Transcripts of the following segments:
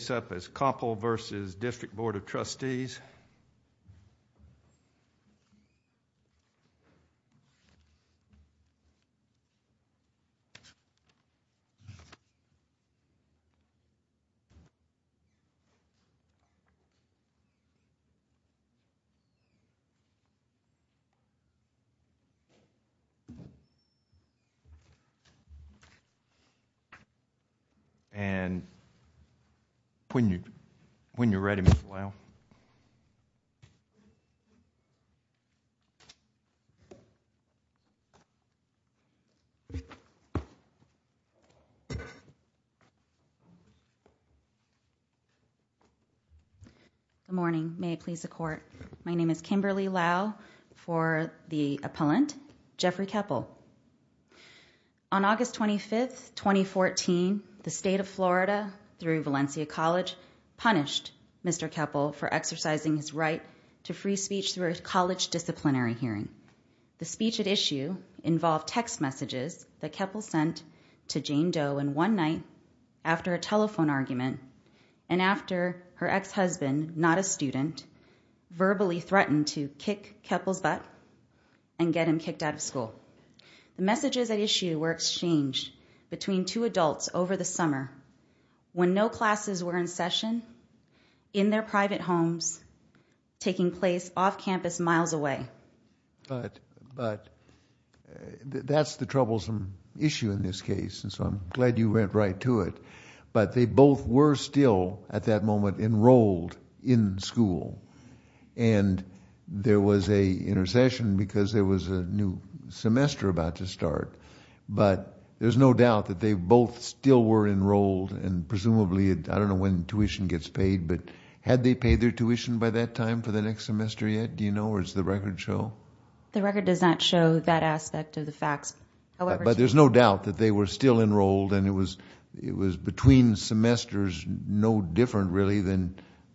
Koeppel v. District Board of Trustees Good morning. May it please the court. My name is Kimberly Lau for the appellant, Jeffrey Koeppel. On August 25, 2014, the state of Florida through Valencia College punished Mr. Koeppel for exercising his right to free speech through a college disciplinary hearing. The speech at issue involved text messages that Koeppel sent to Jane Doe in one night after a telephone argument and after her ex-husband, not a student, verbally threatened to kick Koeppel's butt and get him kicked out of school. The messages at issue were exchanged between two adults over the summer when no classes were in session in their private homes taking place off campus miles away. But that's the troublesome issue in this case and so I'm glad you went right to it. But they both were still at that moment enrolled in school and there was a intercession because there was a new semester about to start. But there's no doubt that they both still were enrolled and presumably, I don't know when tuition gets paid, but had they paid their tuition by that time for the next semester yet, do you know, or does the record show? The record does not show that aspect of the facts. But there's no doubt that they were still enrolled and it was between semesters no different really than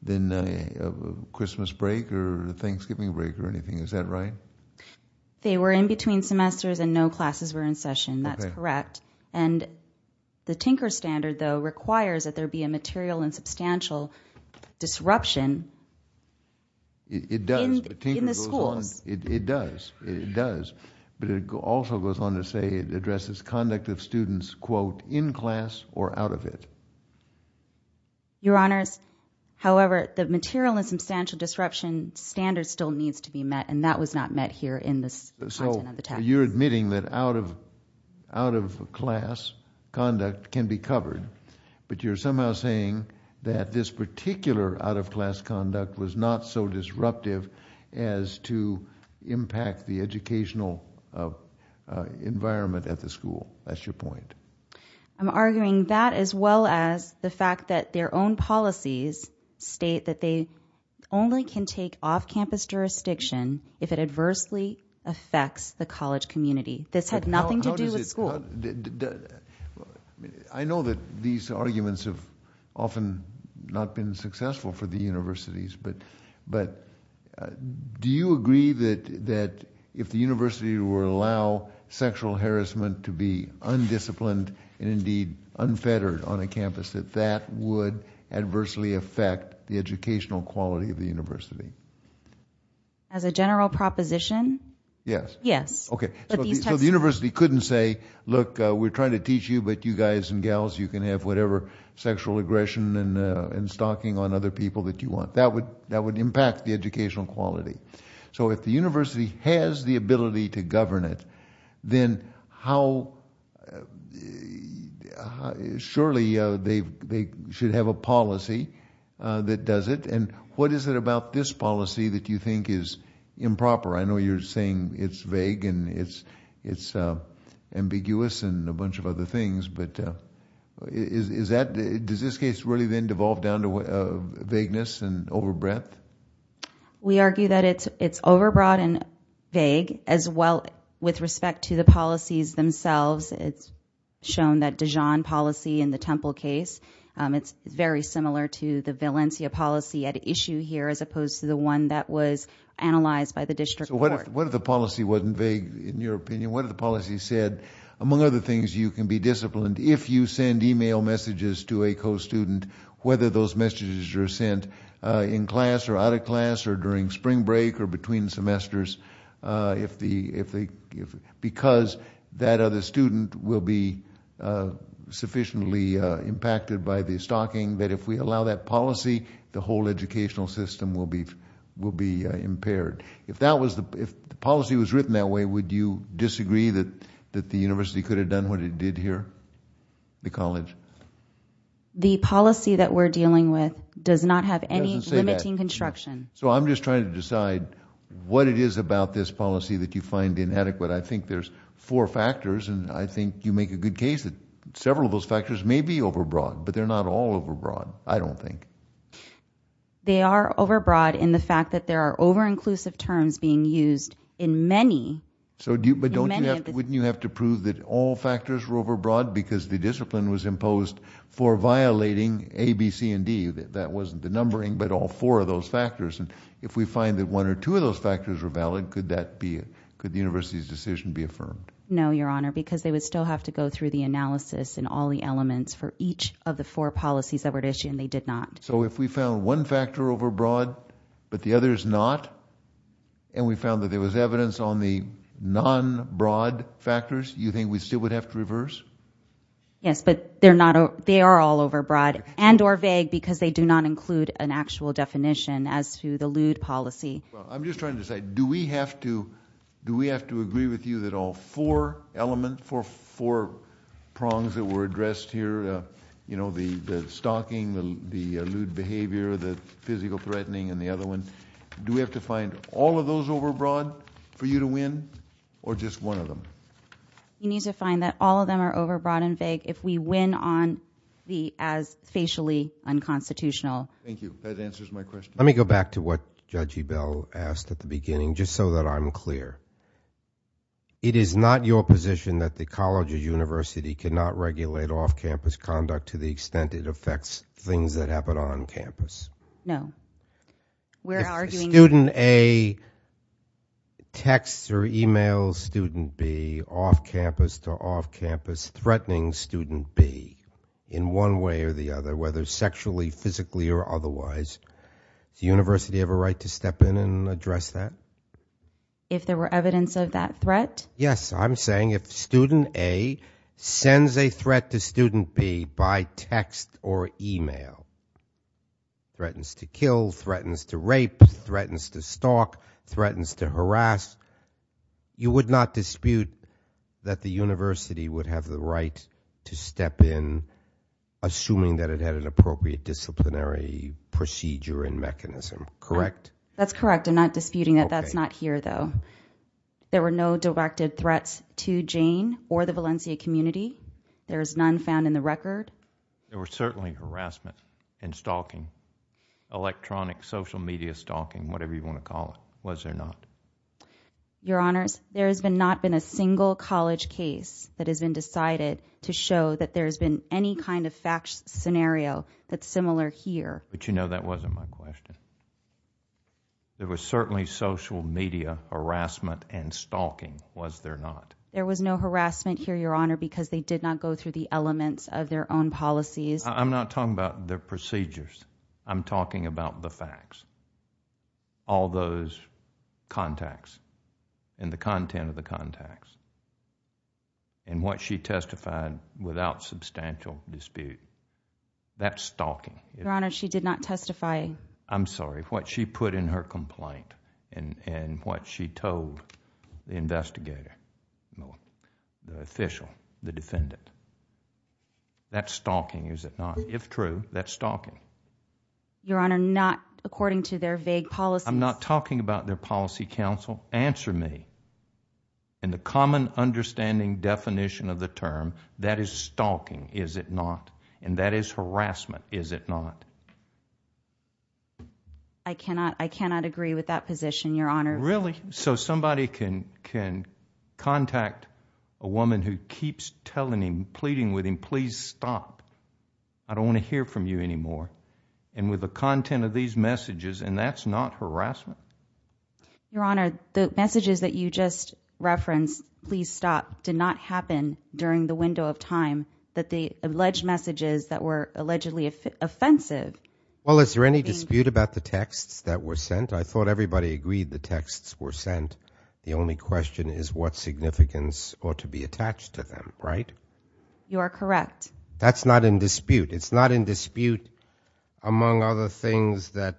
a Christmas break or a Thanksgiving break or anything. Is that right? They were in between semesters and no classes were in session. That's correct. And the Tinker Standard though requires that there be a material and substantial disruption in the schools. It does. It does. But it also goes on to say it addresses conduct of students quote in class or out of it. Your Honors, however, the material and substantial disruption standard still needs to be met and that was not met here in this content of the text. So you're admitting that out of class conduct can be covered. But you're somehow saying that this particular out of class conduct was not so disruptive as to impact the educational environment at the school. That's your point. I'm arguing that as well as the fact that their own policies state that they only can take off campus jurisdiction if it adversely affects the college community. This had nothing to do with school. I know that these arguments have often not been successful for the universities. But do you agree that if the university were to allow sexual harassment to be undisciplined and indeed unfettered on a campus that that would adversely affect the educational quality of the university? As a general proposition, yes. So the university couldn't say, look, we're trying to teach you, but you guys and gals you can have whatever sexual aggression and stalking on other people that you want. That would impact the educational quality. So if the university has the ability to govern it, then surely they should have a policy that does it. And what is it about this policy that you think is improper? I know you're saying it's vague and it's ambiguous and a bunch of other things, but does this case really then devolve down to vagueness and overbreadth? We argue that it's overbroad and vague as well with respect to the policies themselves. It's shown that Dijon policy in the Temple case, it's very similar to the Valencia policy at issue here as opposed to the one that was analyzed by the district court. So what if the policy wasn't vague in your opinion? What if the policy said, among other things, you can be disciplined if you send email messages to a co-student, whether those messages are sent in class or out of class or during spring break or between semesters, because that other student will be sufficiently impacted by the stalking, that if we allow that policy, the whole educational system will be impaired. If the policy was written that way, would you disagree that the university could have done what it did here, the college? The policy that we're dealing with does not have any limiting construction. So I'm just trying to decide what it is about this policy that you find inadequate. I think there's four factors and I think you make a good case that several of those factors may be overbroad, but they're not all overbroad, I don't think. They are overbroad in the fact that there are over-inclusive terms being used in many of the- But wouldn't you have to prove that all factors were overbroad because the discipline was imposed for violating A, B, C, and D? That wasn't the numbering, but all four of those factors. And if we find that one or two of those factors were valid, could the university's decision be affirmed? No, Your Honor, because they would still have to go through the analysis and all the elements, for each of the four policies that were at issue, and they did not. So if we found one factor overbroad, but the other is not, and we found that there was evidence on the non-broad factors, you think we still would have to reverse? Yes, but they are all overbroad and or vague because they do not include an actual definition as to the lewd policy. I'm just trying to decide, do we have to agree with you that all four elements, four prongs that were addressed here, you know, the stalking, the lewd behavior, the physical threatening and the other one, do we have to find all of those overbroad for you to win, or just one of them? You need to find that all of them are overbroad and vague if we win on the as facially unconstitutional. Thank you. That answers my question. Let me go back to what Judge Ebell asked at the beginning, just so that I'm clear. It is not your position that the college or university cannot regulate off-campus conduct to the extent it affects things that happen on campus? No. If student A texts or emails student B off-campus to off-campus threatening student B in one way or the other, whether sexually, physically, or otherwise, does the university have a right to step in and address that? If there were evidence of that threat? Yes. I'm saying if student A sends a threat to student B by text or email, threatens to kill, threatens to rape, threatens to stalk, threatens to harass, you would not dispute that the university would have the right to step in assuming that it had an appropriate disciplinary procedure and mechanism, correct? That's correct. I'm not disputing that. That's not here, though. There were no directed threats to Jane or the Valencia community? There is none found in the record? There were certainly harassment and stalking, electronic social media stalking, whatever you want to call it. Was there not? Your Honors, there has not been a single college case that has been decided to show that there has been any kind of fact scenario that's similar here. But you know that wasn't my question. There was certainly social media harassment and stalking, was there not? There was no harassment here, Your Honor, because they did not go through the elements of their own policies. I'm not talking about their procedures. I'm talking about the facts. All those contacts and the content of the contacts. And what she testified without substantial dispute. That's stalking. Your Honor, she did not testify. I'm sorry. What she put in her complaint and what she told the investigator, the official, the defendant. That's stalking, is it not? If true, that's stalking. Your Honor, not according to their vague policies. I'm not talking about their policy counsel. Answer me. In the common understanding definition of the term, that is stalking, is it not? And that is harassment, is it not? I cannot agree with that position, Your Honor. Really? So somebody can contact a woman who keeps telling him, pleading with him, please stop. I don't want to hear from you anymore. And with the content of these messages and that's not harassment? Your Honor, the messages that you just referenced, please stop, did not happen during the window of time. That the alleged messages that were allegedly offensive. Well, is there any dispute about the texts that were sent? I thought everybody agreed the texts were sent. The only question is what significance ought to be attached to them, right? You are correct. That's not in dispute. It's not in dispute among other things that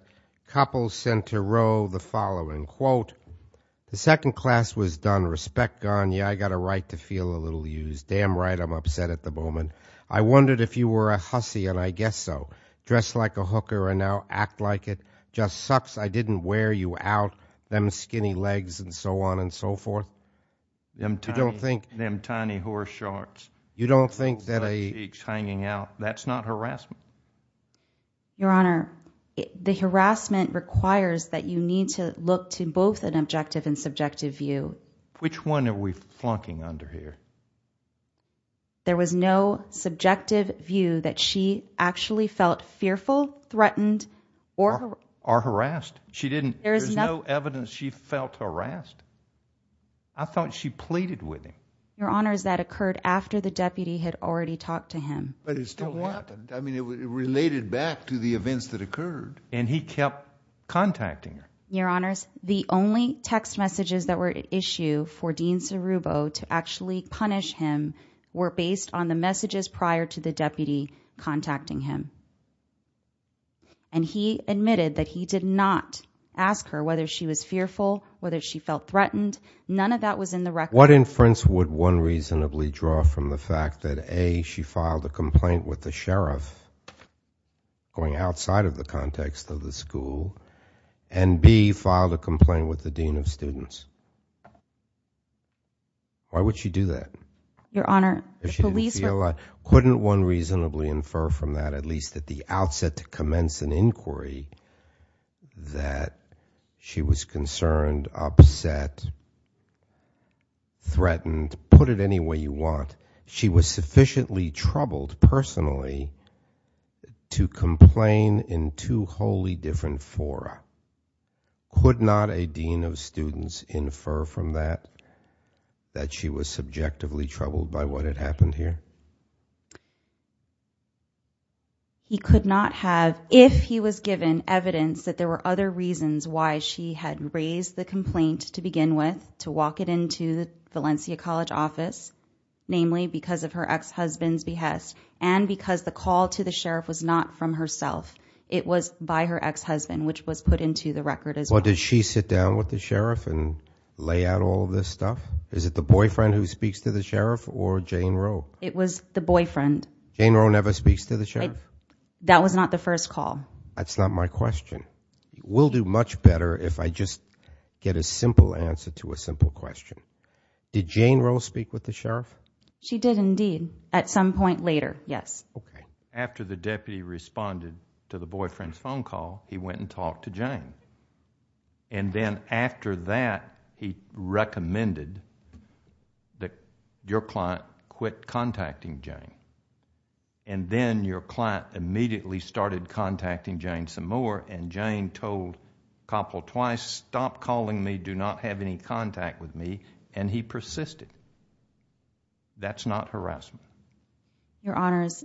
couples sent to Roe the following, quote, the second class was done. Respect gone. Yeah, I got a right to feel a little used. Damn right, I'm upset at the moment. I wondered if you were a hussy and I guess so. Dressed like a hooker and now act like it. Just sucks I didn't wear you out. Them skinny legs and so on and so forth. Them tiny horse shorts. You don't think that a... Hanging out. That's not harassment. Your Honor, the harassment requires that you need to look to both an objective and subjective view. Which one are we flunking under here? There was no subjective view that she actually felt fearful, threatened or harassed. She didn't. There's no evidence she felt harassed. I thought she pleaded with him. Your Honor, that occurred after the deputy had already talked to him. But it still happened. I mean, it related back to the events that occurred. And he kept contacting her. Your Honors, the only text messages that were issued for Dean Sirubo to actually punish him were based on the messages prior to the deputy contacting him. And he admitted that he did not ask her whether she was fearful, whether she felt threatened. None of that was in the record. What inference would one reasonably draw from the fact that A, she filed a complaint with the sheriff going outside of the context of the school and B, filed a complaint with the dean of students? Why would she do that? Your Honor, the police were... Couldn't one reasonably infer from that, at least at the outset to commence an inquiry, that she was concerned, upset, threatened, put it any way you want. She was sufficiently troubled personally to complain in two wholly different fora. Could not a dean of students infer from that that she was subjectively troubled by what had happened here? He could not have, if he was given evidence that there were other reasons why she had raised the complaint to begin with, to walk it into the Valencia College office, namely because of her ex-husband's behest and because the call to the sheriff was not from herself. It was by her ex-husband, which was put into the record as well. Did she sit down with the sheriff and lay out all this stuff? Is it the boyfriend who speaks to the sheriff or Jane Roe? It was the boyfriend. Jane Roe never speaks to the sheriff? That was not the first call. That's not my question. We'll do much better if I just get a simple answer to a simple question. Did Jane Roe speak with the sheriff? She did indeed, at some point later, yes. After the deputy responded to the boyfriend's phone call, he went and talked to Jane. Then, after that, he recommended that your client quit contacting Jane. Then your client immediately started contacting Jane some more, and Jane told Coppel twice, stop calling me, do not have any contact with me, and he persisted. That's not harassment. Your Honors,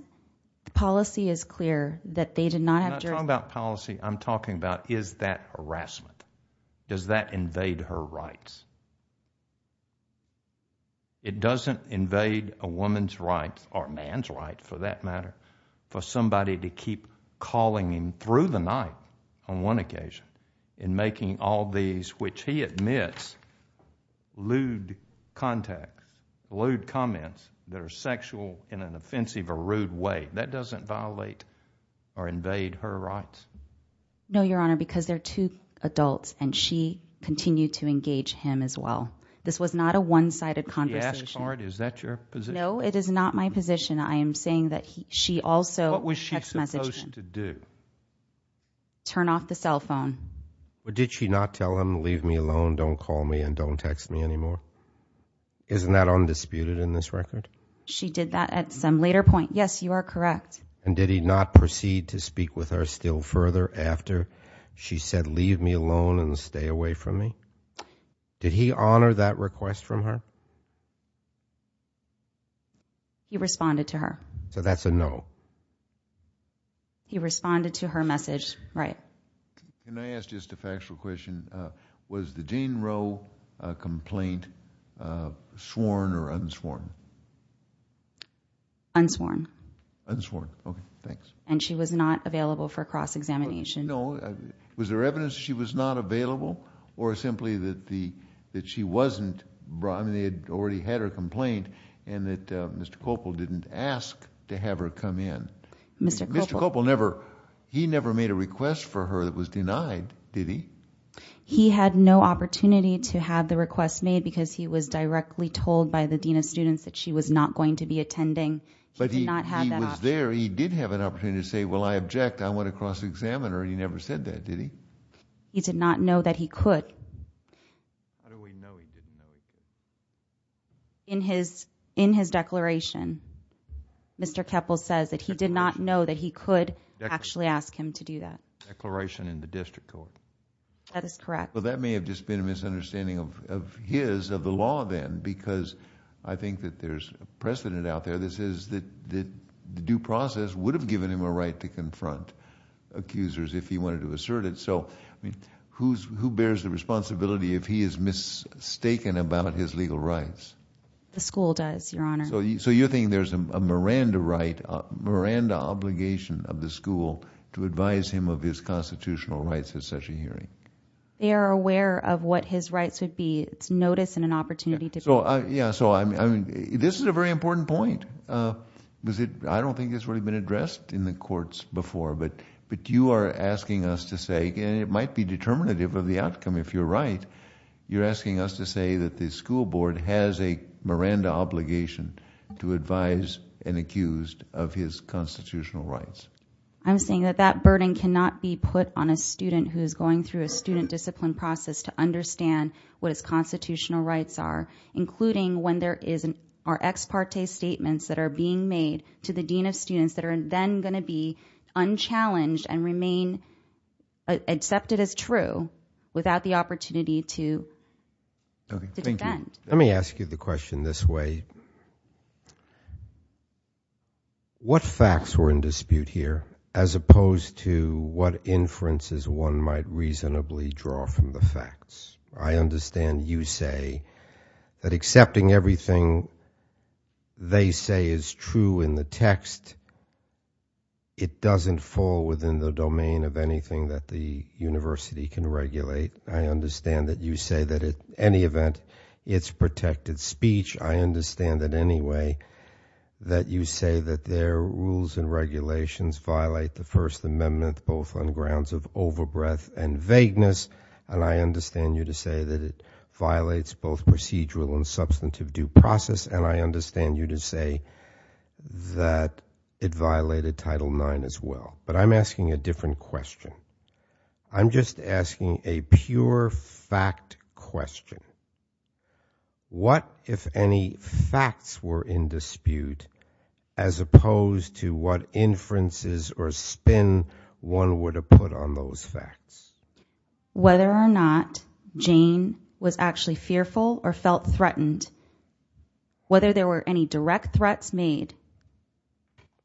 the policy is clear that they did not have jurisdiction... I'm not talking about policy. I'm talking about is that harassment? Does that invade her rights? It doesn't invade a woman's rights, or man's rights for that matter, for somebody to keep calling him through the night on one occasion and making all these, which he admits, lewd contact, lewd comments that are sexual in an offensive or rude way. That doesn't violate or invade her rights. No, Your Honor, because they're two adults, and she continued to engage him as well. This was not a one-sided conversation. She asked, Clark, is that your position? No, it is not my position. I am saying that she also... What was she supposed to do? Turn off the cell phone. Did she not tell him, leave me alone, don't call me, and don't text me anymore? Isn't that undisputed in this record? She did that at some later point. Yes, you are correct. And did he not proceed to speak with her still further after she said, leave me alone and stay away from me? Did he honor that request from her? He responded to her. So that's a no. He responded to her message, right. Can I ask just a factual question? Was the Dean Rowe complaint sworn or unsworn? Unsworn. Unsworn. Okay. Thanks. And she was not available for cross-examination? No. Was there evidence that she was not available, or simply that she wasn't... I mean, they had already had her complaint, and that Mr. Copel didn't ask to have her come in. Mr. Copel never... He never made a request for her that was denied, did he? He had no opportunity to have the request made because he was directly told by the Dean of Students that she was not going to be attending. He did not have that opportunity. But he was there. He did have an opportunity to say, well, I object. I want a cross-examiner. He never said that, did he? He did not know that he could. In his declaration, Mr. Copel says that he did not know that he could actually ask him to do that. Declaration in the district court. That is correct. Well, that may have just been a misunderstanding of his, of the law, then, because I think that there's precedent out there that says that the due process would have given him a right to confront accusers if he wanted to assert it. So who bears the responsibility if he is mistaken about his legal rights? The school does, Your Honor. So you're thinking there's a Miranda right, a Miranda obligation of the school to advise him of his constitutional rights at such a hearing? They are aware of what his rights would be. It's notice and an opportunity to... Yeah. So, I mean, this is a very important point. I don't think it's really been addressed in the courts before, but you are asking us to say, and it might be determinative of the outcome if you're right, you're asking us to say that the school board has a Miranda obligation to advise an accused of his constitutional rights. I'm saying that that burden cannot be put on a student who is going through a student discipline process to understand what his constitutional rights are, including when there are ex parte statements that are being made to the dean of students that are then going to be unchallenged and remain accepted as true without the opportunity to... Okay. Thank you. To defend. Let me ask you the question this way. What facts were in dispute here as opposed to what inferences one might reasonably draw from the facts? I understand you say that accepting everything they say is true in the text, it doesn't fall within the domain of anything that the university can regulate. I understand that you say that at any event, it's protected speech. I understand that anyway, that you say that their rules and regulations violate the First Amendment both on grounds of overbreath and vagueness, and I understand you to say that it violates both procedural and substantive due process, and I understand you to say that it violated Title IX as well, but I'm asking a different question. I'm just asking a pure fact question. What, if any, facts were in dispute as opposed to what inferences or spin one would have put on those facts? Whether or not Jane was actually fearful or felt threatened, whether there were any direct threats made,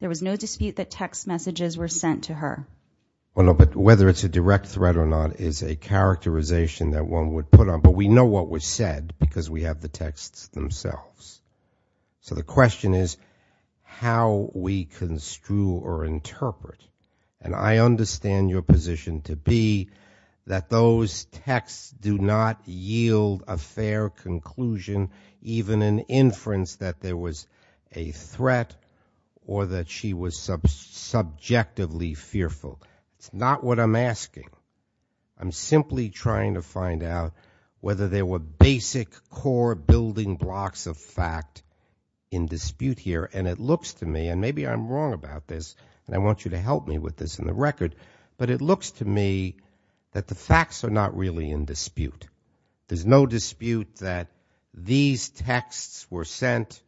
there was no dispute that text messages were sent to her. Well, no, but whether it's a direct threat or not is a characterization that one would put on, but we know what was said because we have the texts themselves. So the question is how we construe or interpret, and I understand your position to be that those texts do not yield a fair conclusion, even an inference that there was a threat or that she was subjectively fearful. It's not what I'm asking. I'm simply trying to find out whether there were basic core building blocks of fact in dispute here, and it looks to me, and maybe I'm wrong about this, and I want you to help me with this in the record, but it looks to me that the facts are not really in dispute. There's no dispute that these texts were sent.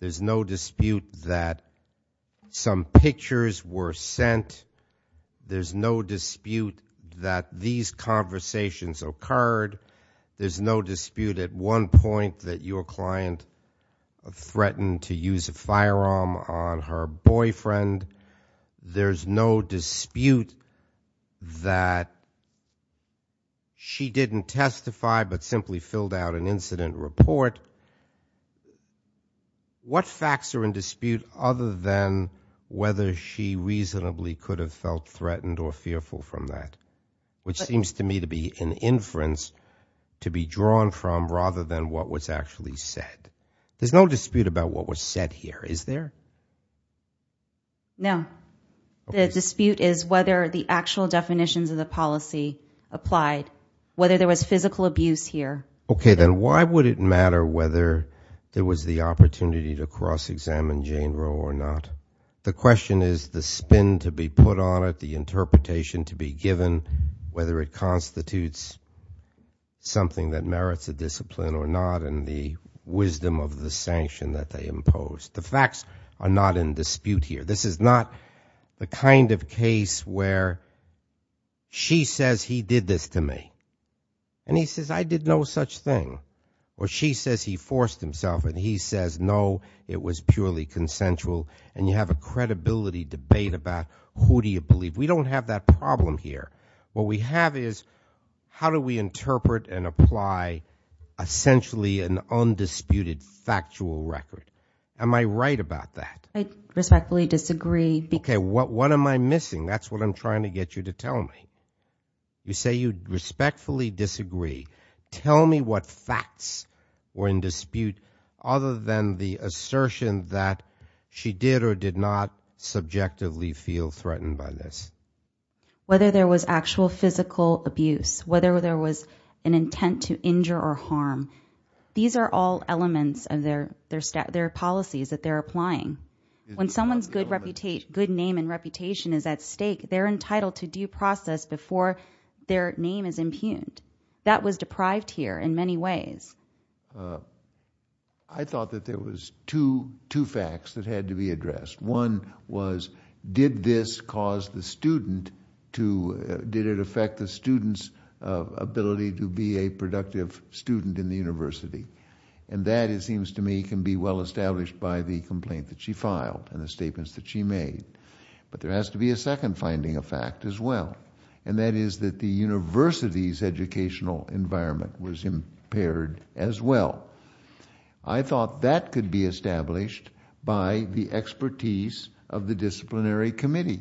There's no dispute that some pictures were sent. There's no dispute that these conversations occurred. There's no dispute at one point that your client threatened to use a firearm on her boyfriend. There's no dispute that she didn't testify but simply filled out an incident report. So what facts are in dispute other than whether she reasonably could have felt threatened or fearful from that, which seems to me to be an inference to be drawn from rather than what was actually said. There's no dispute about what was said here, is there? No. The dispute is whether the actual definitions of the policy applied, whether there was physical abuse here. Okay, then why would it matter whether there was the opportunity to cross-examine Jane Rowe or not? The question is the spin to be put on it, the interpretation to be given, whether it constitutes something that merits a discipline or not, and the wisdom of the sanction that they imposed. The facts are not in dispute here. This is not the kind of case where she says he did this to me, and he says, I did no such thing. Or she says he forced himself, and he says, no, it was purely consensual, and you have a credibility debate about who do you believe. We don't have that problem here. What we have is how do we interpret and apply essentially an undisputed factual record. Am I right about that? I respectfully disagree. Okay, what am I missing? That's what I'm trying to get you to tell me. You say you respectfully disagree. Tell me what facts were in dispute other than the assertion that she did or did not subjectively feel threatened by this. Whether there was actual physical abuse, whether there was an intent to injure or harm, these are all elements of their policies that they're applying. When someone's good name and reputation is at stake, they're entitled to due process before their name is impugned. That was deprived here in many ways. I thought that there was two facts that had to be addressed. One was, did this cause the student to, did it affect the student's ability to be a productive student in the university? And that, it seems to me, can be well established by the complaint that she filed and the statements that she made. But there has to be a second finding of fact as well. And that is that the university's educational environment was impaired as well. I thought that could be established by the expertise of the disciplinary committee.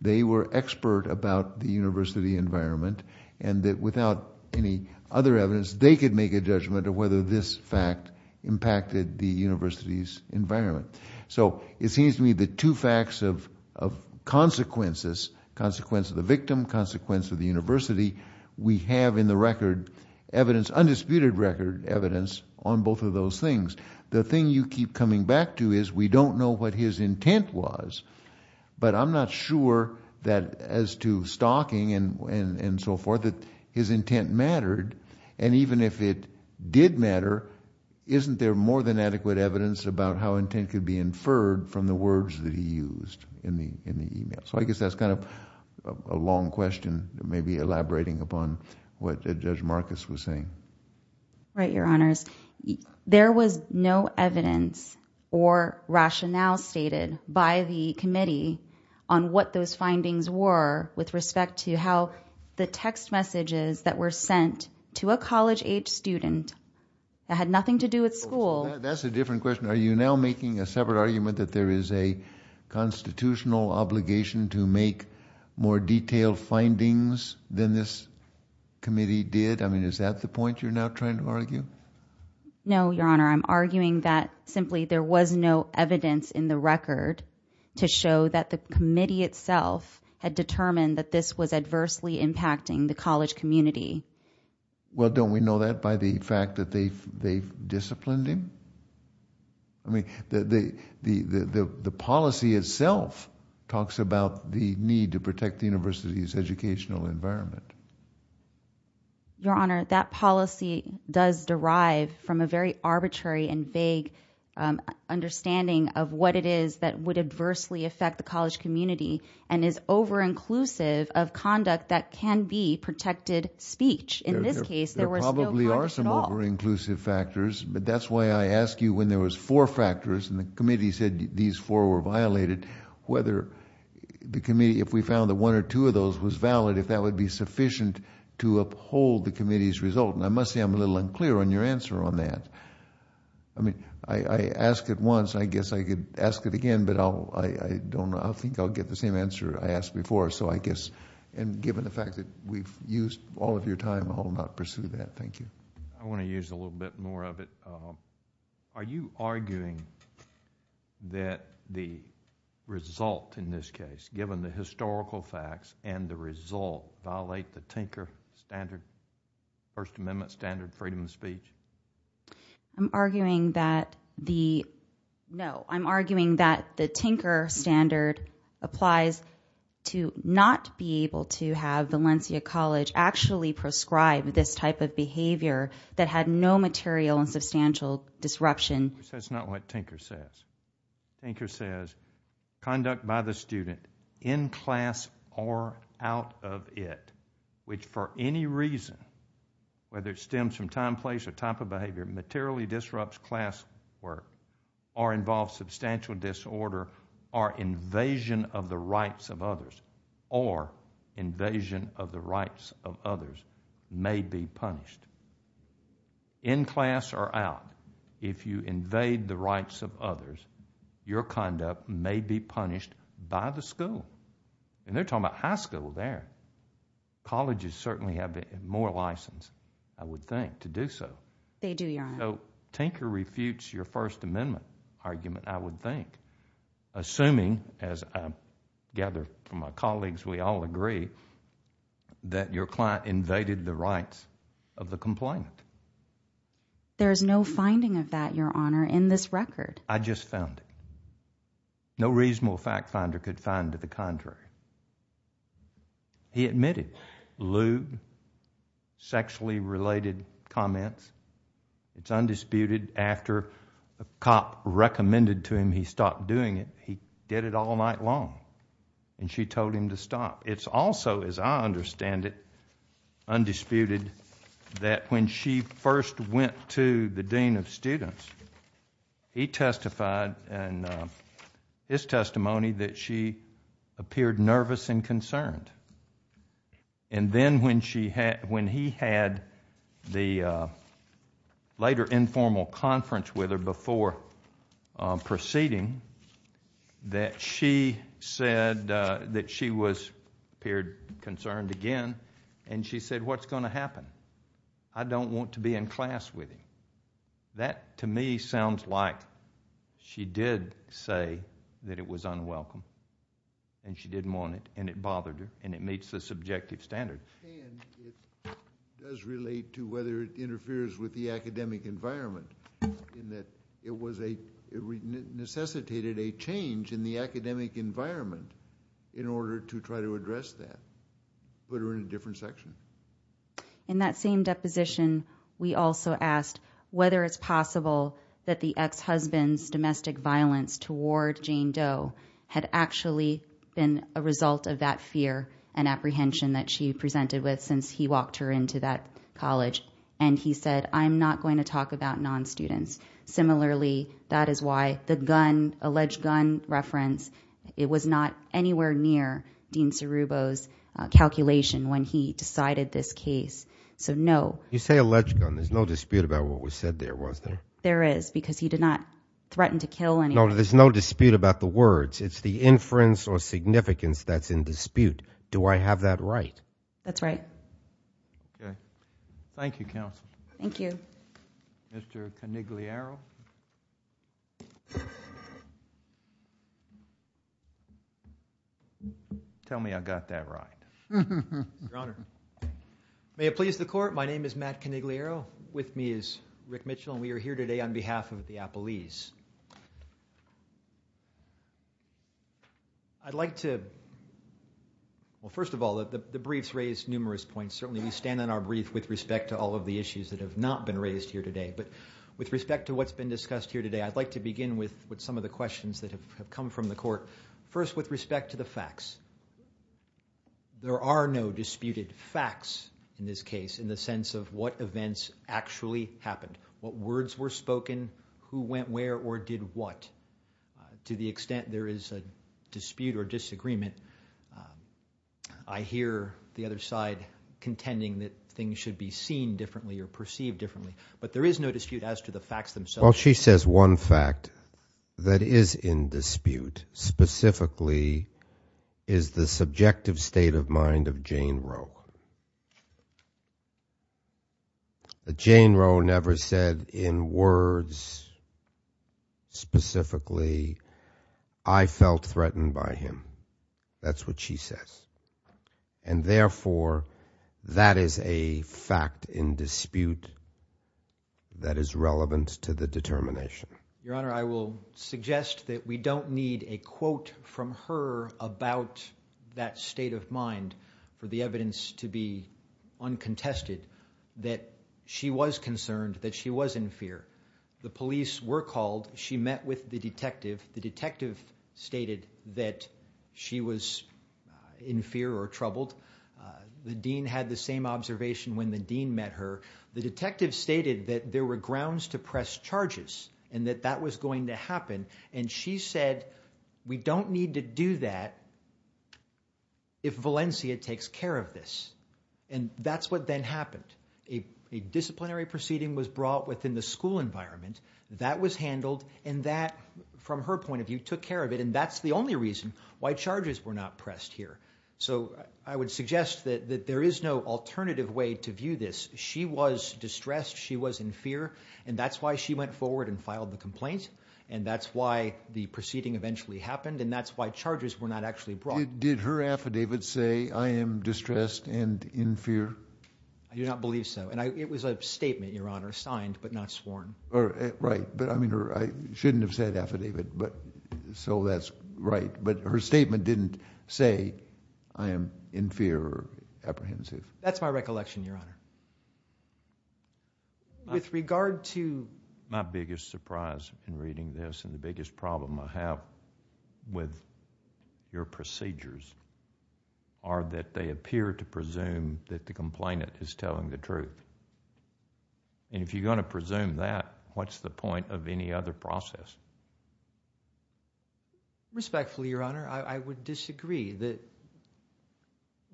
They were expert about the university environment and that without any other evidence they could make a judgment of whether this fact impacted the university's environment. So it seems to me the two facts of consequences, consequence of the victim, consequence of the university, we have in the record evidence, undisputed record evidence on both of those things. The thing you keep coming back to is we don't know what his intent was. But I'm not sure that as to stalking and so forth, that his intent mattered. And even if it did matter, isn't there more than adequate evidence about how intent could be inferred from the words that he used in the email? So I guess that's kind of a long question, maybe elaborating upon what Judge Marcus was saying. Right, Your Honors. There was no evidence or rationale stated by the committee on what those findings were with respect to how the text messages that were sent to a college-age student that had nothing to do with school. That's a different question. Are you now making a separate argument that there is a constitutional obligation to make more detailed findings than this committee did? I mean, is that the point you're now trying to argue? No, Your Honor. I'm arguing that simply there was no evidence in the record to show that the committee itself had determined that this was adversely impacting the college community. Well, don't we know that by the fact that they disciplined him? I mean, the policy itself talks about the need to protect the university's educational environment. Your Honor, that policy does derive from a very arbitrary and vague understanding of what it is that would adversely affect the college community and is over-inclusive of conduct that can be protected speech. In this case, there was no conduct at all. There probably are some over-inclusive factors, but that's why I asked you when there was four factors and the committee said these four were violated, whether the committee, if we found that one or two of those was valid, if that would be sufficient to uphold the committee's result. I must say I'm a little unclear on your answer on that. I mean, I asked it once. I guess I could ask it again, but I don't... I think I'll get the same answer I asked before, so I guess... and given the fact that we've used all of your time, I'll not pursue that. Thank you. I want to use a little bit more of it. Are you arguing that the result in this case, given the historical facts and the result, violate the Tinker standard, First Amendment standard of freedom of speech? I'm arguing that the... no. I'm arguing that the Tinker standard applies to not be able to have Valencia College actually prescribe this type of behavior that had no material and substantial disruption. That's not what Tinker says. Tinker says, conduct by the student, in class or out of it, which for any reason, whether it stems from time, place, or type of behavior, materially disrupts class work or involves substantial disorder or invasion of the rights of others or invasion of the rights of others, may be punished. In class or out, if you invade the rights of others, your conduct may be punished by the school. They're talking about high school there. Colleges certainly have more license, I would think, to do so. They do, Your Honor. So, Tinker refutes your First Amendment argument, I would think, assuming, as I gather from my colleagues, we all agree, that your client invaded the rights of the complainant. There is no finding of that, Your Honor, in this record. I just found it. No reasonable fact finder could find to the contrary. He admitted lewd, sexually related comments. It's undisputed. After a cop recommended to him he stop doing it, he did it all night long. And she told him to stop. It's also, as I understand it, undisputed that when she first went to the dean of students, he testified in his testimony that she appeared nervous and concerned. And then when he had the later informal conference with her before proceeding, that she said that she appeared concerned again, and she said, what's going to happen? I don't want to be in class with him. That to me sounds like she did say that it was unwelcome, and she didn't want it, and it bothered her, and it meets the subjective standard. And it does relate to whether it interferes with the academic environment, in that it was a, it necessitated a change in the academic environment in order to try to address that. Put her in a different section. In that same deposition, we also asked whether it's possible that the ex-husband's domestic violence toward Jane Doe had actually been a result of that fear and apprehension that she presented with since he walked her into that college. And he said, I'm not going to talk about non-students. Similarly, that is why the gun, alleged gun reference, it was not anywhere near Dean Cerubo's calculation when he decided this case. So no. You say alleged gun. There's no dispute about what was said there, was there? There is. Because he did not threaten to kill anyone. No, there's no dispute about the words. It's the inference or significance that's in dispute. Do I have that right? That's right. Okay. Thank you, counsel. Thank you. Mr. Conigliaro. Tell me I got that right. Your Honor. May it please the court. With me is Rick Mitchell, and we are here today to discuss a case that's been brought here today on behalf of the Appellees. I'd like to, well, first of all, the briefs raise numerous points. Certainly we stand on our brief with respect to all of the issues that have not been raised here today. But with respect to what's been discussed here today, I'd like to begin with some of the questions that have come from the court. First, with respect to the facts. There are no disputed facts in this case in the sense of what events actually happened, what words were spoken, who went where, or did what. To the extent there is a dispute or disagreement, I hear the other side contending that things should be seen differently or perceived differently. But there is no dispute as to the facts themselves. Well, she says one fact that is in dispute specifically is the subjective state of mind of Jane Roe. But Jane Roe never said in words specifically, I felt threatened by him. That's what she says. And therefore, that is a fact in dispute that is relevant to the determination. Your Honor, I will suggest that we don't need a quote from her about that state of mind for the evidence to be uncontested, that she was concerned, that she was in fear. The police were called. She met with the detective. The detective stated that she was in fear or troubled. The dean had the same observation when the dean met her. The detective stated that there were grounds to press charges and that that was going to happen. And she said, we don't need to do that if Valencia takes care of this. And that's what then happened. A disciplinary proceeding was brought within the school environment. That was handled. And that, from her point of view, took care of it. And that's the only reason why charges were not pressed here. So I would suggest that there is no alternative way to view this. She was distressed. She was in fear. And that's why she went forward and filed the complaint. And that's why the proceeding eventually happened. And that's why charges were not actually brought. Did her affidavit say, I am distressed and in fear? I do not believe so. And it was a statement, Your Honor, signed but not sworn. Right. But I mean, I shouldn't have said affidavit. So that's right. But her statement didn't say, I am in fear or apprehensive. That's my recollection, Your Honor. With regard to... My biggest surprise in reading this and the biggest problem I have with your procedures are that they appear to presume that the complainant is telling the truth. And if you're going to presume that, what's the point of any other process? Respectfully, Your Honor, I would disagree.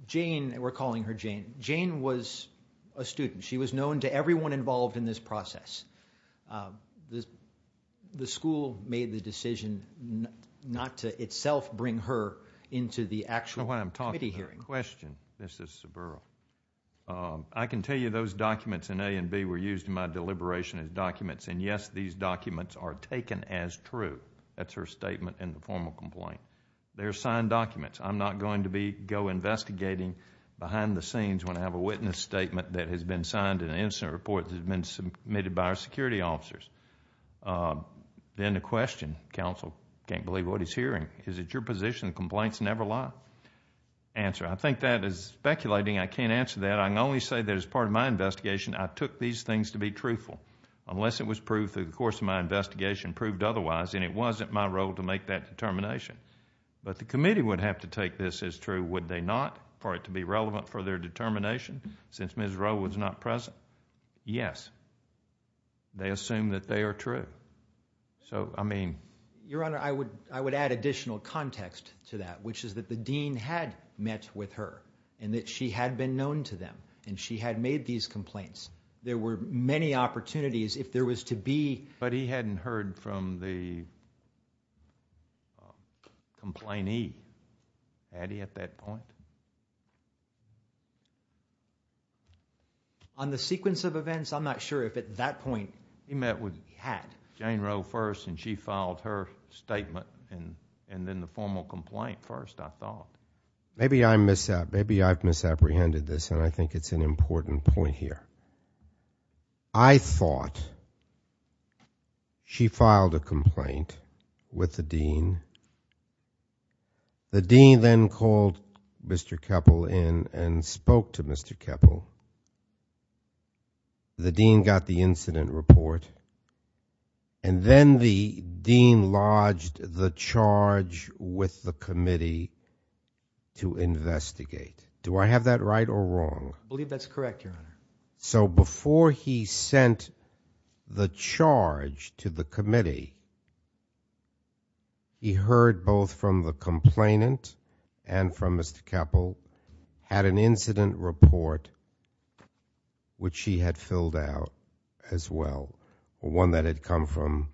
Jane, we're calling her Jane. Jane was a student. She was known to everyone involved in this process. The school made the decision not to itself bring her into the actual committee hearing. So when I'm talking about a question, Mrs. Saburo, I can tell you those documents in A and B were used in my deliberation as documents. And yes, these documents are taken as true. That's her statement in the formal complaint. They're signed documents. I'm not going to go investigating behind the scenes when I have a witness statement that has been signed in an incident report that has been submitted by our security officers. Then the question, counsel, can't believe what he's hearing, is it your position that complaints never lie? Answer, I think that is speculating. I can't answer that. I can only say that as part of my investigation, I took these things to be truthful, unless it was proved through the course of my investigation proved otherwise, and it wasn't my role to make that determination. But the committee would have to take this as true, would they not, for it to be relevant for their determination since Ms. Rowe was not present? Yes. They assume that they are true. Your Honor, I would add additional context to that, which is that the dean had met with her and that she had been known to them and she had made these complaints. There were many opportunities if there was to be. But he hadn't heard from the complainee. Had he at that point? On the sequence of events, I'm not sure if at that point he met with, had Jane Rowe first and she filed her statement, and then the formal complaint first, I thought. Maybe I've misapprehended this, and I think it's an important point here. I thought she filed a complaint with the dean. The dean then called Mr. Keppel in and spoke to Mr. Keppel. The dean got the incident report, and then the dean lodged the charge with the committee to investigate. Do I have that right or wrong? I believe that's correct, Your Honor. So before he sent the charge to the committee, he heard both from the complainant and from Mr. Keppel at an incident report, which he had filled out as well, one that had come from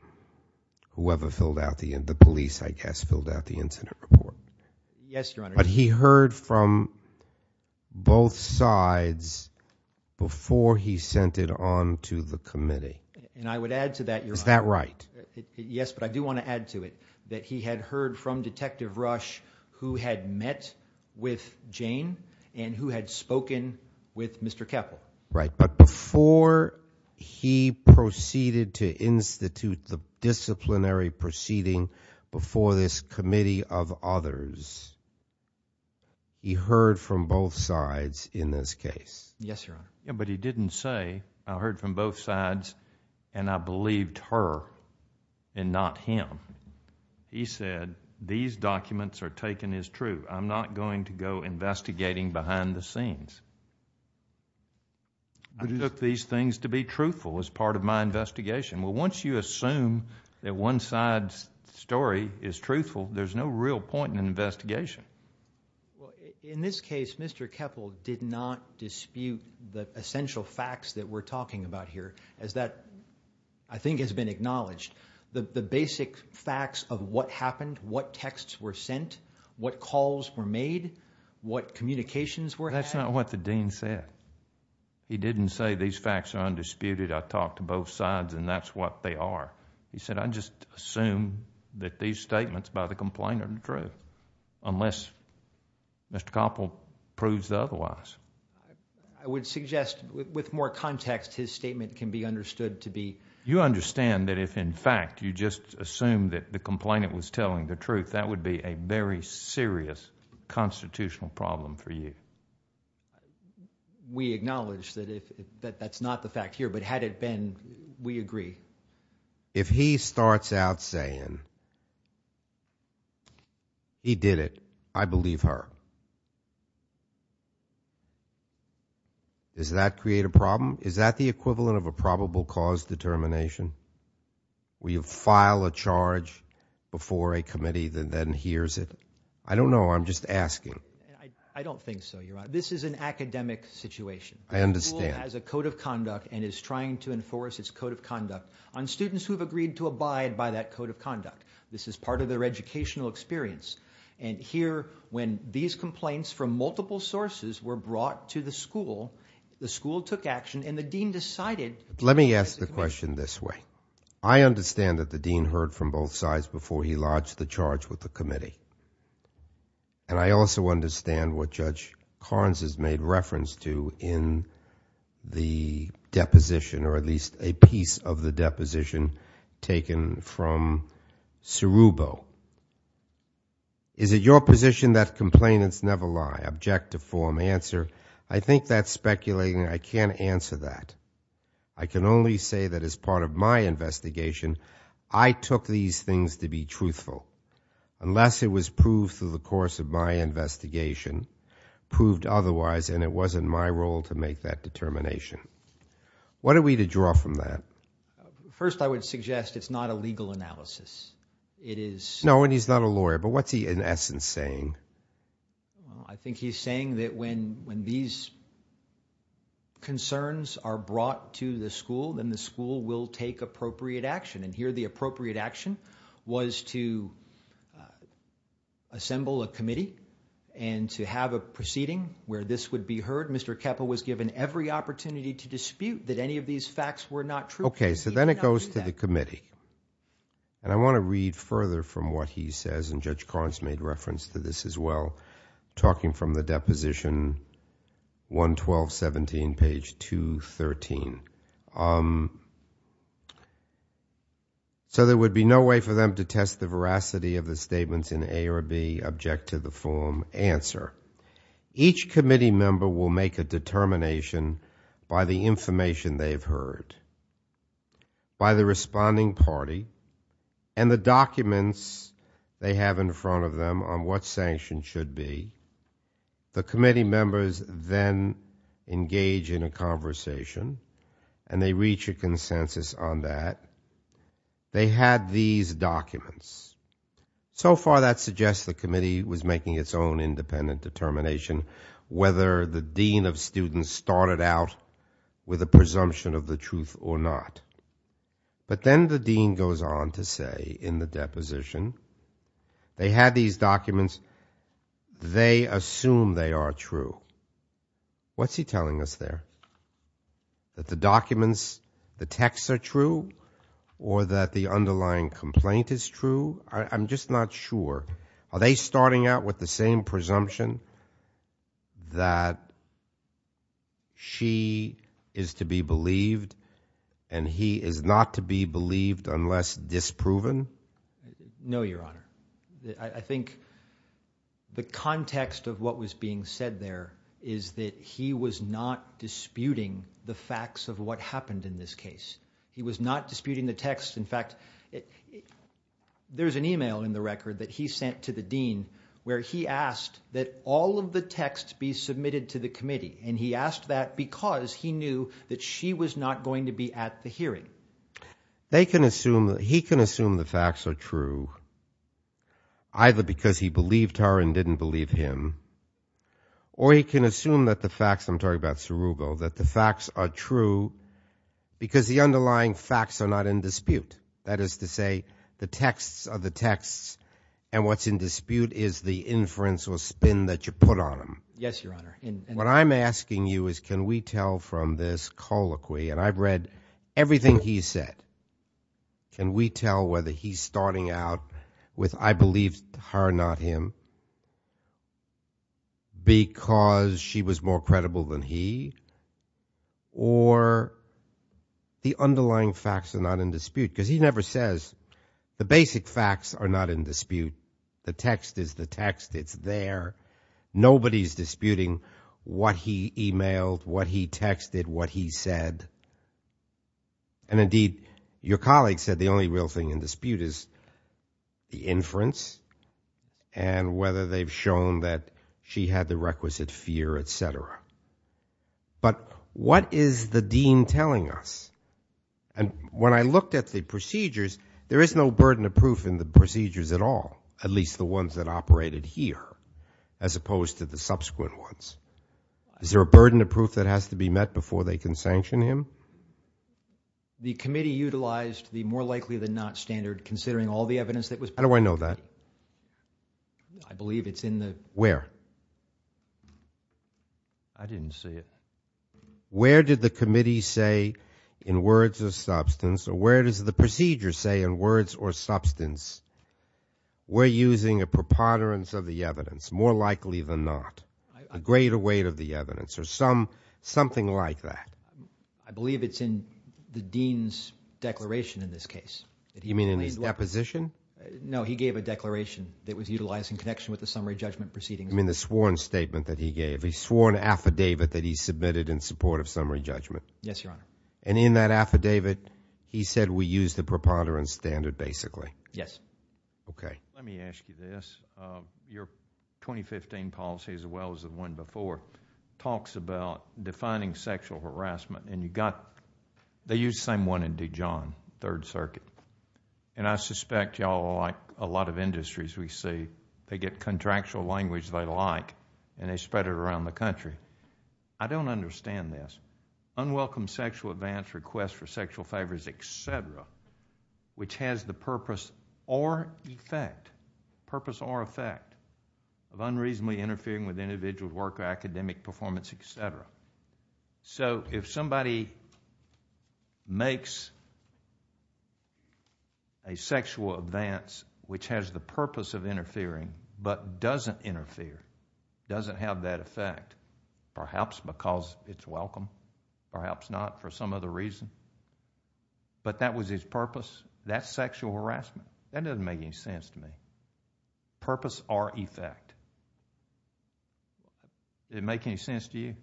whoever filled out the, the police, I guess, filled out the incident report. Yes, Your Honor. But he heard from both sides before he sent it on to the committee. And I would add to that, Your Honor. Is that right? Yes, but I do want to add to it that he had heard from Detective Rush who had met with Jane and who had spoken with Mr. Keppel. Right, but before he proceeded to institute the disciplinary proceeding before this committee of others, he heard from both sides in this case. Yes, Your Honor. Yeah, but he didn't say, I heard from both sides and I believed her and not him. He said, these documents are taken as true. I'm not going to go investigating behind the scenes. I took these things to be truthful as part of my investigation. Well, once you assume that one side's story is truthful, there's no real point in an investigation. In this case, Mr. Keppel did not dispute the essential facts that we're talking about here as that, I think, has been acknowledged. The basic facts of what happened, what texts were sent, what calls were made, what communications were had. That's not what the dean said. He didn't say, these facts are undisputed. I talked to both sides and that's what they are. He said, I just assume that these statements by the complainant are true unless Mr. Keppel proves otherwise. I would suggest with more context his statement can be understood to be... You understand that if, in fact, you just assume that the complainant was telling the truth, that would be a very serious constitutional problem for you. We acknowledge that that's not the fact here, but had it been, we agree. If he starts out saying, he did it, I believe her, does that create a problem? Is that the equivalent of a probable cause determination? Will you file a charge before a committee that then hears it? I don't know. I'm just asking. I don't think so, Your Honor. This is an academic situation. I understand. The dean has a code of conduct and is trying to enforce its code of conduct on students who have agreed to abide by that code of conduct. This is part of their educational experience. Here, when these complaints from multiple sources were brought to the school, the school took action and the dean decided... Let me ask the question this way. I understand that the dean heard from both sides before he lodged the charge with the committee. And I also understand what Judge Carnes has made reference to in the deposition, or at least a piece of the deposition, taken from Cerubo. Is it your position that complainants never lie, object to form answer? I think that's speculating. I can't answer that. I can only say that as part of my investigation, I took these things to be truthful. Unless it was proved through the course of my investigation, proved otherwise, and it wasn't my role to make that determination. What are we to draw from that? First, I would suggest it's not a legal analysis. It is... No, and he's not a lawyer. But what's he, in essence, saying? I think he's saying that when these concerns are brought to the school, then the school will take appropriate action. And here the appropriate action was to assemble a committee and to have a proceeding where this would be heard. Mr. Keppel was given every opportunity to dispute that any of these facts were not true. Okay, so then it goes to the committee. And I want to read further from what he says, and Judge Carnes made reference to this as well, talking from the Deposition 112.17, page 213. So there would be no way for them to test the veracity of the statements in A or B, object to the form, answer. Each committee member will make a determination by the information they've heard, by the responding party, and the documents they have in front of them on what sanction should be. The committee members then engage in a conversation, and they reach a consensus on that. They had these documents. So far that suggests the committee was making its own independent determination whether the dean of students started out with a presumption of the truth or not. But then the dean goes on to say in the deposition, they had these documents. They assume they are true. What's he telling us there? That the documents, the texts are true? Or that the underlying complaint is true? I'm just not sure. Are they starting out with the same presumption that she is to be believed, and he is not to be believed unless disproven? No, Your Honor. I think the context of what was being said there is that he was not disputing the facts of what happened in this case. He was not disputing the text. In fact, there's an email in the record that he sent to the dean where he asked that all of the texts be submitted to the committee, and he asked that because he knew that she was not going to be at the hearing. He can assume the facts are true either because he believed her and didn't believe him, or he can assume that the facts are true because the underlying facts are not in dispute. That is to say, the texts are the texts, and what's in dispute is the inference or spin that you put on them. Yes, Your Honor. What I'm asking you is can we tell from this colloquy, and I've read everything he's said, can we tell whether he's starting out with I believed her, not him, because she was more credible than he, or the underlying facts are not in dispute? Because he never says the basic facts are not in dispute. The text is the text. It's there. Nobody's disputing what he emailed, what he texted, what he said. And indeed, your colleague said the only real thing in dispute is the inference and whether they've shown that she had the requisite fear, et cetera. But what is the dean telling us? And when I looked at the procedures, there is no burden of proof in the procedures at all, at least the ones that operated here as opposed to the subsequent ones. Is there a burden of proof that has to be met before they can sanction him? The committee utilized the more likely than not standard considering all the evidence that was presented. How do I know that? I believe it's in the. Where? I didn't see it. Where did the committee say in words or substance, or where does the procedure say in words or substance, we're using a preponderance of the evidence, more likely than not, a greater weight of the evidence, or something like that? I believe it's in the dean's declaration in this case. You mean in his deposition? No, he gave a declaration that was utilized in connection with the summary judgment proceedings. You mean the sworn statement that he gave? He swore an affidavit that he submitted in support of summary judgment. Yes, Your Honor. And in that affidavit, he said we use the preponderance standard basically? Yes. Okay. Let me ask you this. Your 2015 policy, as well as the one before, talks about defining sexual harassment, and you've got, they use the same one in Dijon, Third Circuit. And I suspect you all are like a lot of industries we see. They get contractual language they like, and they spread it around the country. I don't understand this. Unwelcome sexual advance requests for sexual favors, et cetera, which has the purpose or effect, purpose or effect, of unreasonably interfering with individual work or academic performance, et cetera. So if somebody makes a sexual advance which has the purpose of interfering but doesn't interfere, doesn't have that effect, perhaps because it's welcome, perhaps not for some other reason, but that was his purpose, that's sexual harassment. That doesn't make any sense to me. Purpose or effect. Does it make any sense to you?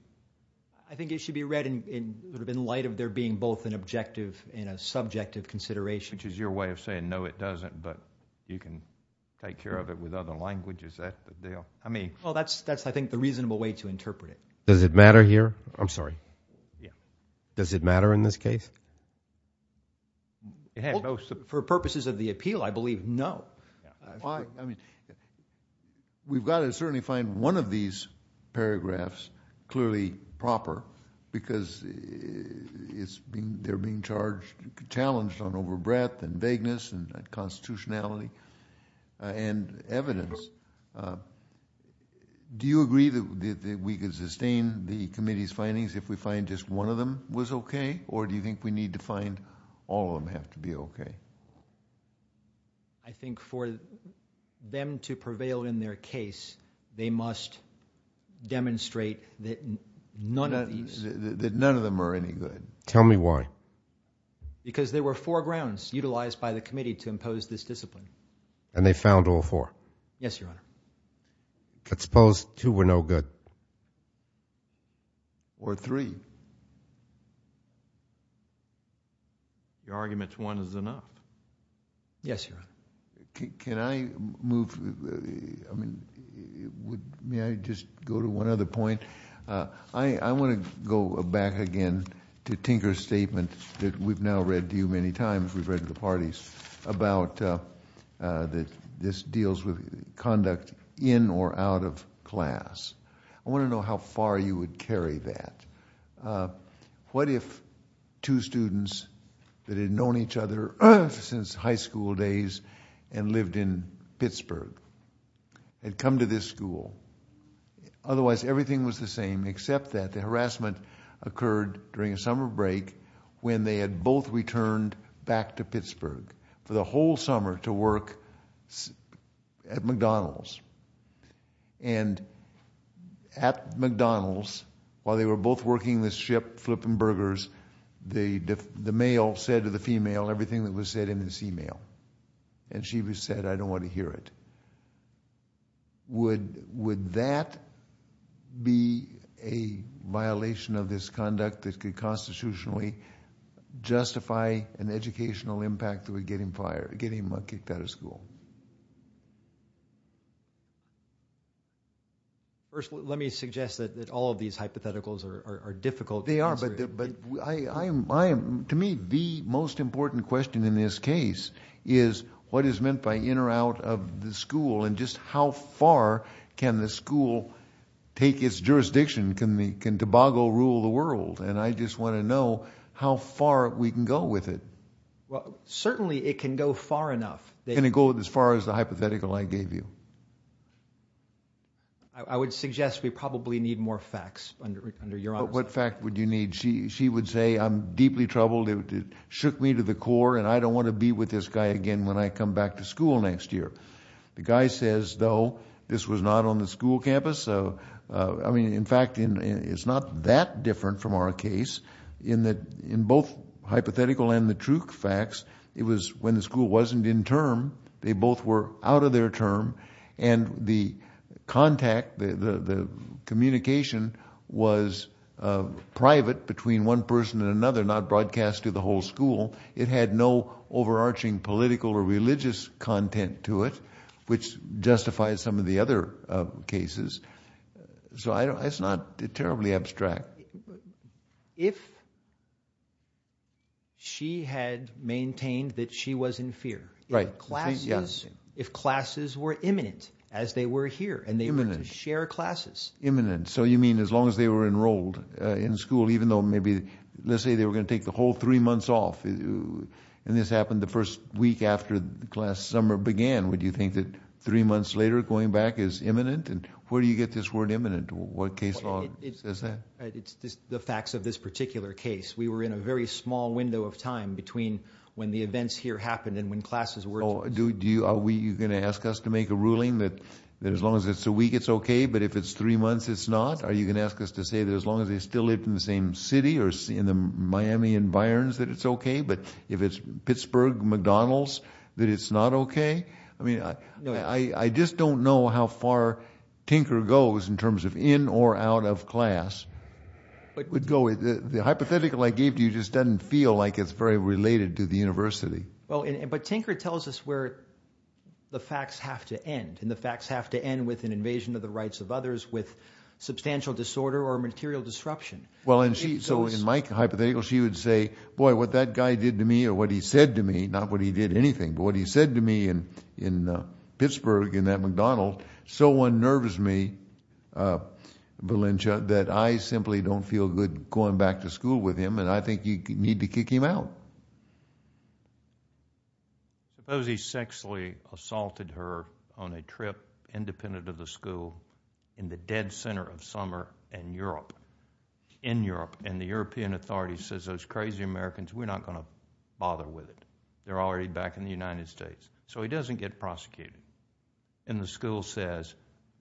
I think it should be read in light of there being both an objective and a subjective consideration. Which is your way of saying, no, it doesn't, but you can take care of it with other languages. That's the deal. Well, that's, I think, the reasonable way to interpret it. Does it matter here? I'm sorry. Yeah. Does it matter in this case? For purposes of the appeal, I believe no. We've got to certainly find one of these paragraphs clearly proper because they're being challenged on over breadth and vagueness and constitutionality and evidence. Do you agree that we could sustain the committee's findings if we find just one of them was okay? Or do you think we need to find all of them have to be okay? I think for them to prevail in their case, they must demonstrate that none of these. That none of them are any good. Tell me why. Because there were four grounds utilized by the committee to impose this discipline. And they found all four? Yes, Your Honor. Let's suppose two were no good. Or three. The argument's one is enough. Yes, Your Honor. Can I move? I mean, may I just go to one other point? I want to go back again to Tinker's statement that we've now read to you many times, we've read to the parties, about this deals with conduct in or out of class. I want to know how far you would carry that. What if two students that had known each other since high school days and lived in Pittsburgh had come to this school? Otherwise, everything was the same except that the harassment occurred during a summer break when they had both returned back to Pittsburgh for the whole summer to work at McDonald's. And at McDonald's, while they were both working this ship, flipping burgers, the male said to the female everything that was said in this email. And she said, I don't want to hear it. Would that be a violation of this conduct that could constitutionally justify an educational impact that would get him kicked out of school? First, let me suggest that all of these hypotheticals are difficult to answer. They are, but to me the most important question in this case is what is meant by in or out of the school and just how far can the school take its jurisdiction? Can Tobago rule the world? And I just want to know how far we can go with it. Well, certainly it can go far enough. Can it go as far as the hypothetical I gave you? I would suggest we probably need more facts under your office. What fact would you need? She would say I'm deeply troubled. It shook me to the core and I don't want to be with this guy again when I come back to school next year. The guy says, though, this was not on the school campus. I mean, in fact, it's not that different from our case in that in both hypothetical and the true facts, it was when the school wasn't in term, they both were out of their term, and the contact, the communication was private between one person and another, not broadcast to the whole school. It had no overarching political or religious content to it, which justifies some of the other cases. So it's not terribly abstract. If she had maintained that she was in fear. Right. If classes were imminent as they were here and they were to share classes. Imminent. So you mean as long as they were enrolled in school, even though maybe let's say they were going to take the whole three months off, and this happened the first week after class summer began, would you think that three months later going back is imminent? And where do you get this word imminent? What case law is that? It's the facts of this particular case. We were in a very small window of time between when the events here happened and when classes were. Are you going to ask us to make a ruling that as long as it's a week, it's okay, but if it's three months, it's not? Are you going to ask us to say that as long as they still live in the same city or in the Miami environs that it's okay, but if it's Pittsburgh, McDonald's, that it's not okay? I just don't know how far Tinker goes in terms of in or out of class. The hypothetical I gave to you just doesn't feel like it's very related to the university. But Tinker tells us where the facts have to end, and the facts have to end with an invasion of the rights of others, with substantial disorder or material disruption. So in my hypothetical, she would say, boy, what that guy did to me or what he said to me, not what he did to anything, but what he said to me in Pittsburgh in that McDonald's so unnerves me, Valencia, that I simply don't feel good going back to school with him, and I think you need to kick him out. Suppose he sexually assaulted her on a trip independent of the school in the dead center of summer in Europe, and the European authorities says, those crazy Americans, we're not going to bother with it. They're already back in the United States. So he doesn't get prosecuted, and the school says,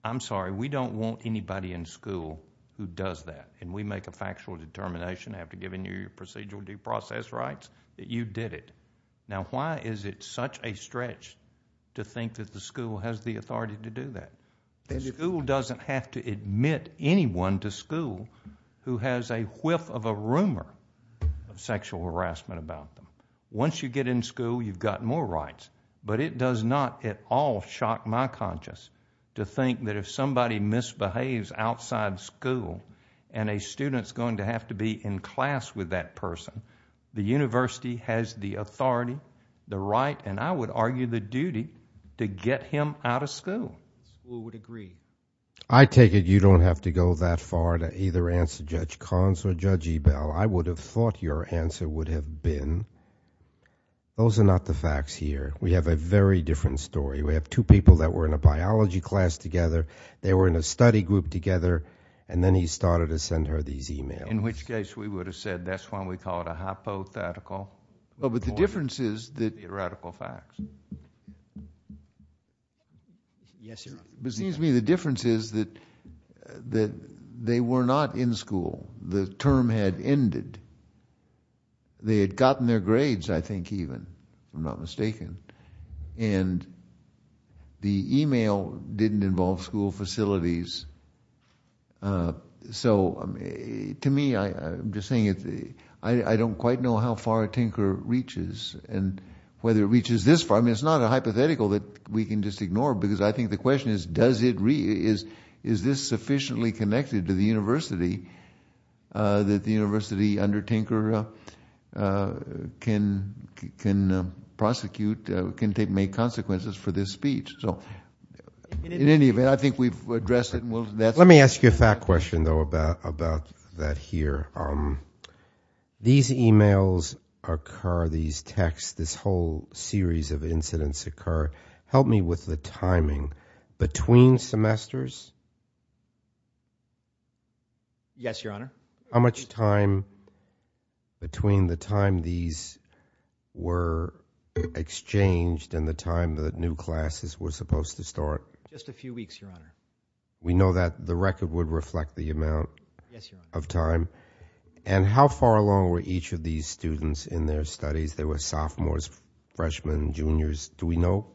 I'm sorry, we don't want anybody in school who does that, and we make a factual determination after giving you your procedural due process rights that you did it. Now, why is it such a stretch to think that the school has the authority to do that? The school doesn't have to admit anyone to school who has a whiff of a rumor of sexual harassment about them. Once you get in school, you've got more rights. But it does not at all shock my conscience to think that if somebody misbehaves outside school and a student's going to have to be in class with that person, the university has the authority, the right, and I would argue the duty to get him out of school. The school would agree. I take it you don't have to go that far to either answer Judge Collins or Judge Ebell. I would have thought your answer would have been, those are not the facts here. We have a very different story. We have two people that were in a biology class together. They were in a study group together, and then he started to send her these e-mails. In which case we would have said that's why we call it a hypothetical. But the difference is that they were not in school. The term had ended. They had gotten their grades, I think, even, if I'm not mistaken. And the e-mail didn't involve school facilities. So to me, I'm just saying I don't quite know how far Tinker reaches and whether it reaches this far. I mean, it's not a hypothetical that we can just ignore because I think the question is, is this sufficiently connected to the university that the university under Tinker can prosecute, can make consequences for this speech? In any event, I think we've addressed it. Let me ask you a fact question, though, about that here. These e-mails occur, these texts, this whole series of incidents occur. Help me with the timing. Between semesters? Yes, Your Honor. How much time between the time these were exchanged and the time the new classes were supposed to start? Just a few weeks, Your Honor. We know that the record would reflect the amount of time. And how far along were each of these students in their studies? There were sophomores, freshmen, juniors. Do we know?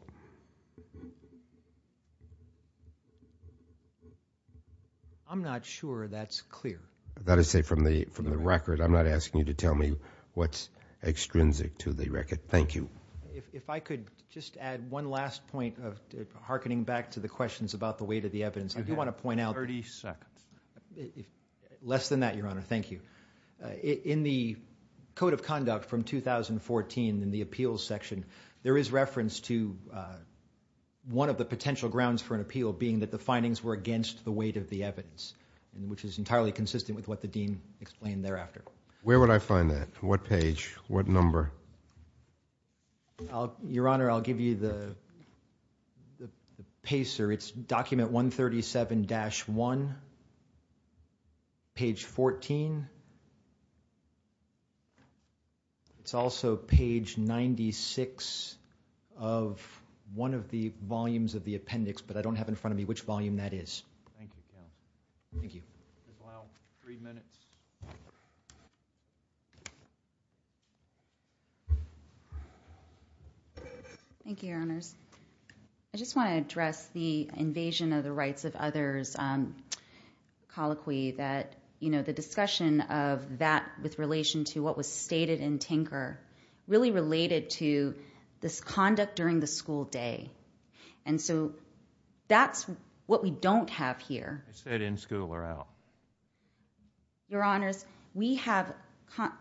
I'm not sure that's clear. That is to say from the record. I'm not asking you to tell me what's extrinsic to the record. Thank you. If I could just add one last point harkening back to the questions about the weight of the evidence. I do want to point out. Thirty seconds. Less than that, Your Honor. Thank you. In the Code of Conduct from 2014 in the appeals section, there is reference to one of the potential grounds for an appeal being that the findings were against the weight of the evidence, which is entirely consistent with what the dean explained thereafter. Where would I find that? What page? What number? Your Honor, I'll give you the pacer. It's document 137-1, page 14. It's also page 96 of one of the volumes of the appendix, but I don't have in front of me which volume that is. Thank you. Thank you. Three minutes. Thank you, Your Honors. I just want to address the invasion of the rights of others colloquy that, you know, the discussion of that with relation to what was stated in Tinker really related to this conduct during the school day. And so that's what we don't have here. Is that in school or out? Your Honors, we have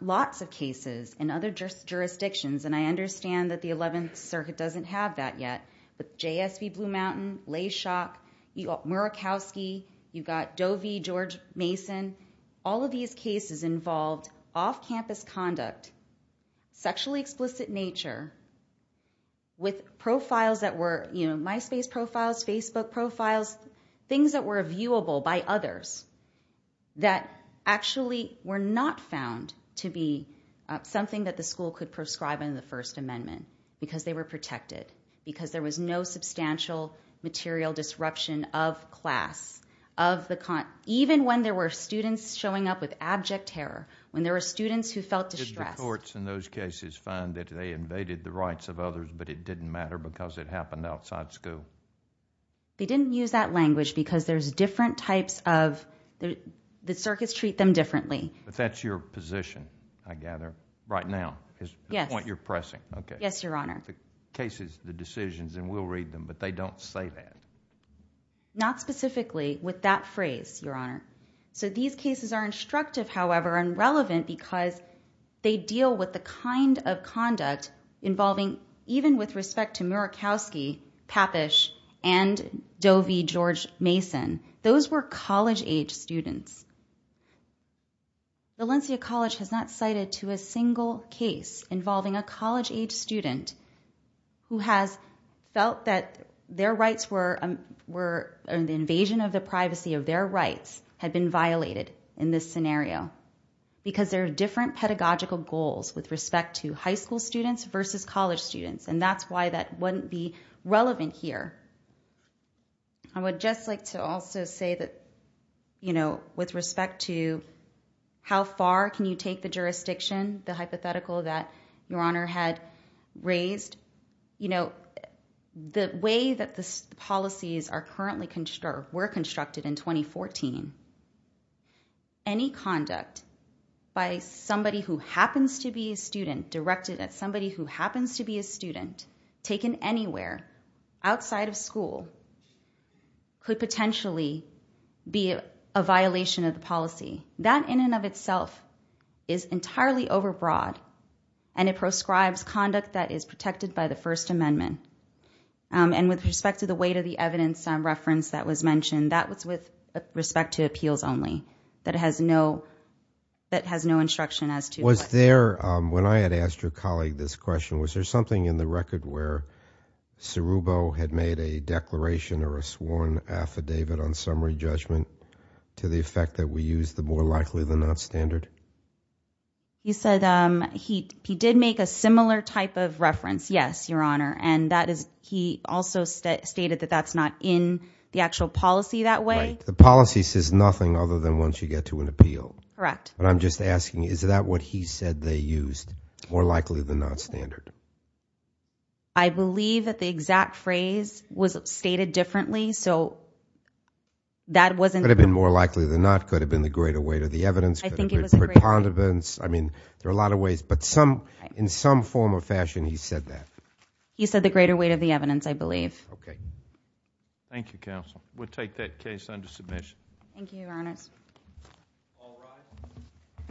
lots of cases in other jurisdictions, and I understand that the 11th Circuit doesn't have that yet, but JSB Blue Mountain, Layshock, Murakowski, you've got Dovey, George Mason, all of these cases involved off-campus conduct, sexually explicit nature, with profiles that were, you know, MySpace profiles, Facebook profiles, things that were viewable by others that actually were not found to be something that the school could prescribe under the First Amendment because they were protected, because there was no substantial material disruption of class, even when there were students showing up with abject terror, when there were students who felt distressed. Did the courts in those cases find that they invaded the rights of others, but it didn't matter because it happened outside school? They didn't use that language because there's different types of, the circuits treat them differently. But that's your position, I gather, right now. Yes. The point you're pressing. Yes, Your Honor. The cases, the decisions, and we'll read them, but they don't say that. Not specifically with that phrase, Your Honor. So these cases are instructive, however, and relevant because they deal with the kind of conduct involving, even with respect to Murakowski, Papish, and Dovey, George Mason. Those were college-age students. Valencia College has not cited to a single case involving a college-age student who has felt that their rights were an invasion of the privacy of their rights had been violated in this scenario because there are different pedagogical goals with respect to high school students versus college students, and that's why that wouldn't be relevant here. I would just like to also say that with respect to how far can you take the jurisdiction, the hypothetical that Your Honor had raised, the way that the policies were constructed in 2014, any conduct by somebody who happens to be a student, taken anywhere outside of school, could potentially be a violation of the policy. That in and of itself is entirely overbroad, and it proscribes conduct that is protected by the First Amendment. And with respect to the weight of the evidence and reference that was mentioned, that was with respect to appeals only. That has no instruction as to what... Was there, when I had asked your colleague this question, was there something in the record where Sirubo had made a declaration or a sworn affidavit on summary judgment to the effect that we use the more likely than not standard? He said he did make a similar type of reference, yes, Your Honor, and he also stated that that's not in the actual policy that way. Right. The policy says nothing other than once you get to an appeal. Correct. But I'm just asking, is that what he said they used, more likely than not standard? I believe that the exact phrase was stated differently, so that wasn't... Could have been more likely than not, could have been the greater weight of the evidence, could have been preponderance, I mean, there are a lot of ways, but in some form or fashion he said that. He said the greater weight of the evidence, I believe. Okay. Thank you, counsel. We'll take that case under submission. Thank you, Your Honor. All rise.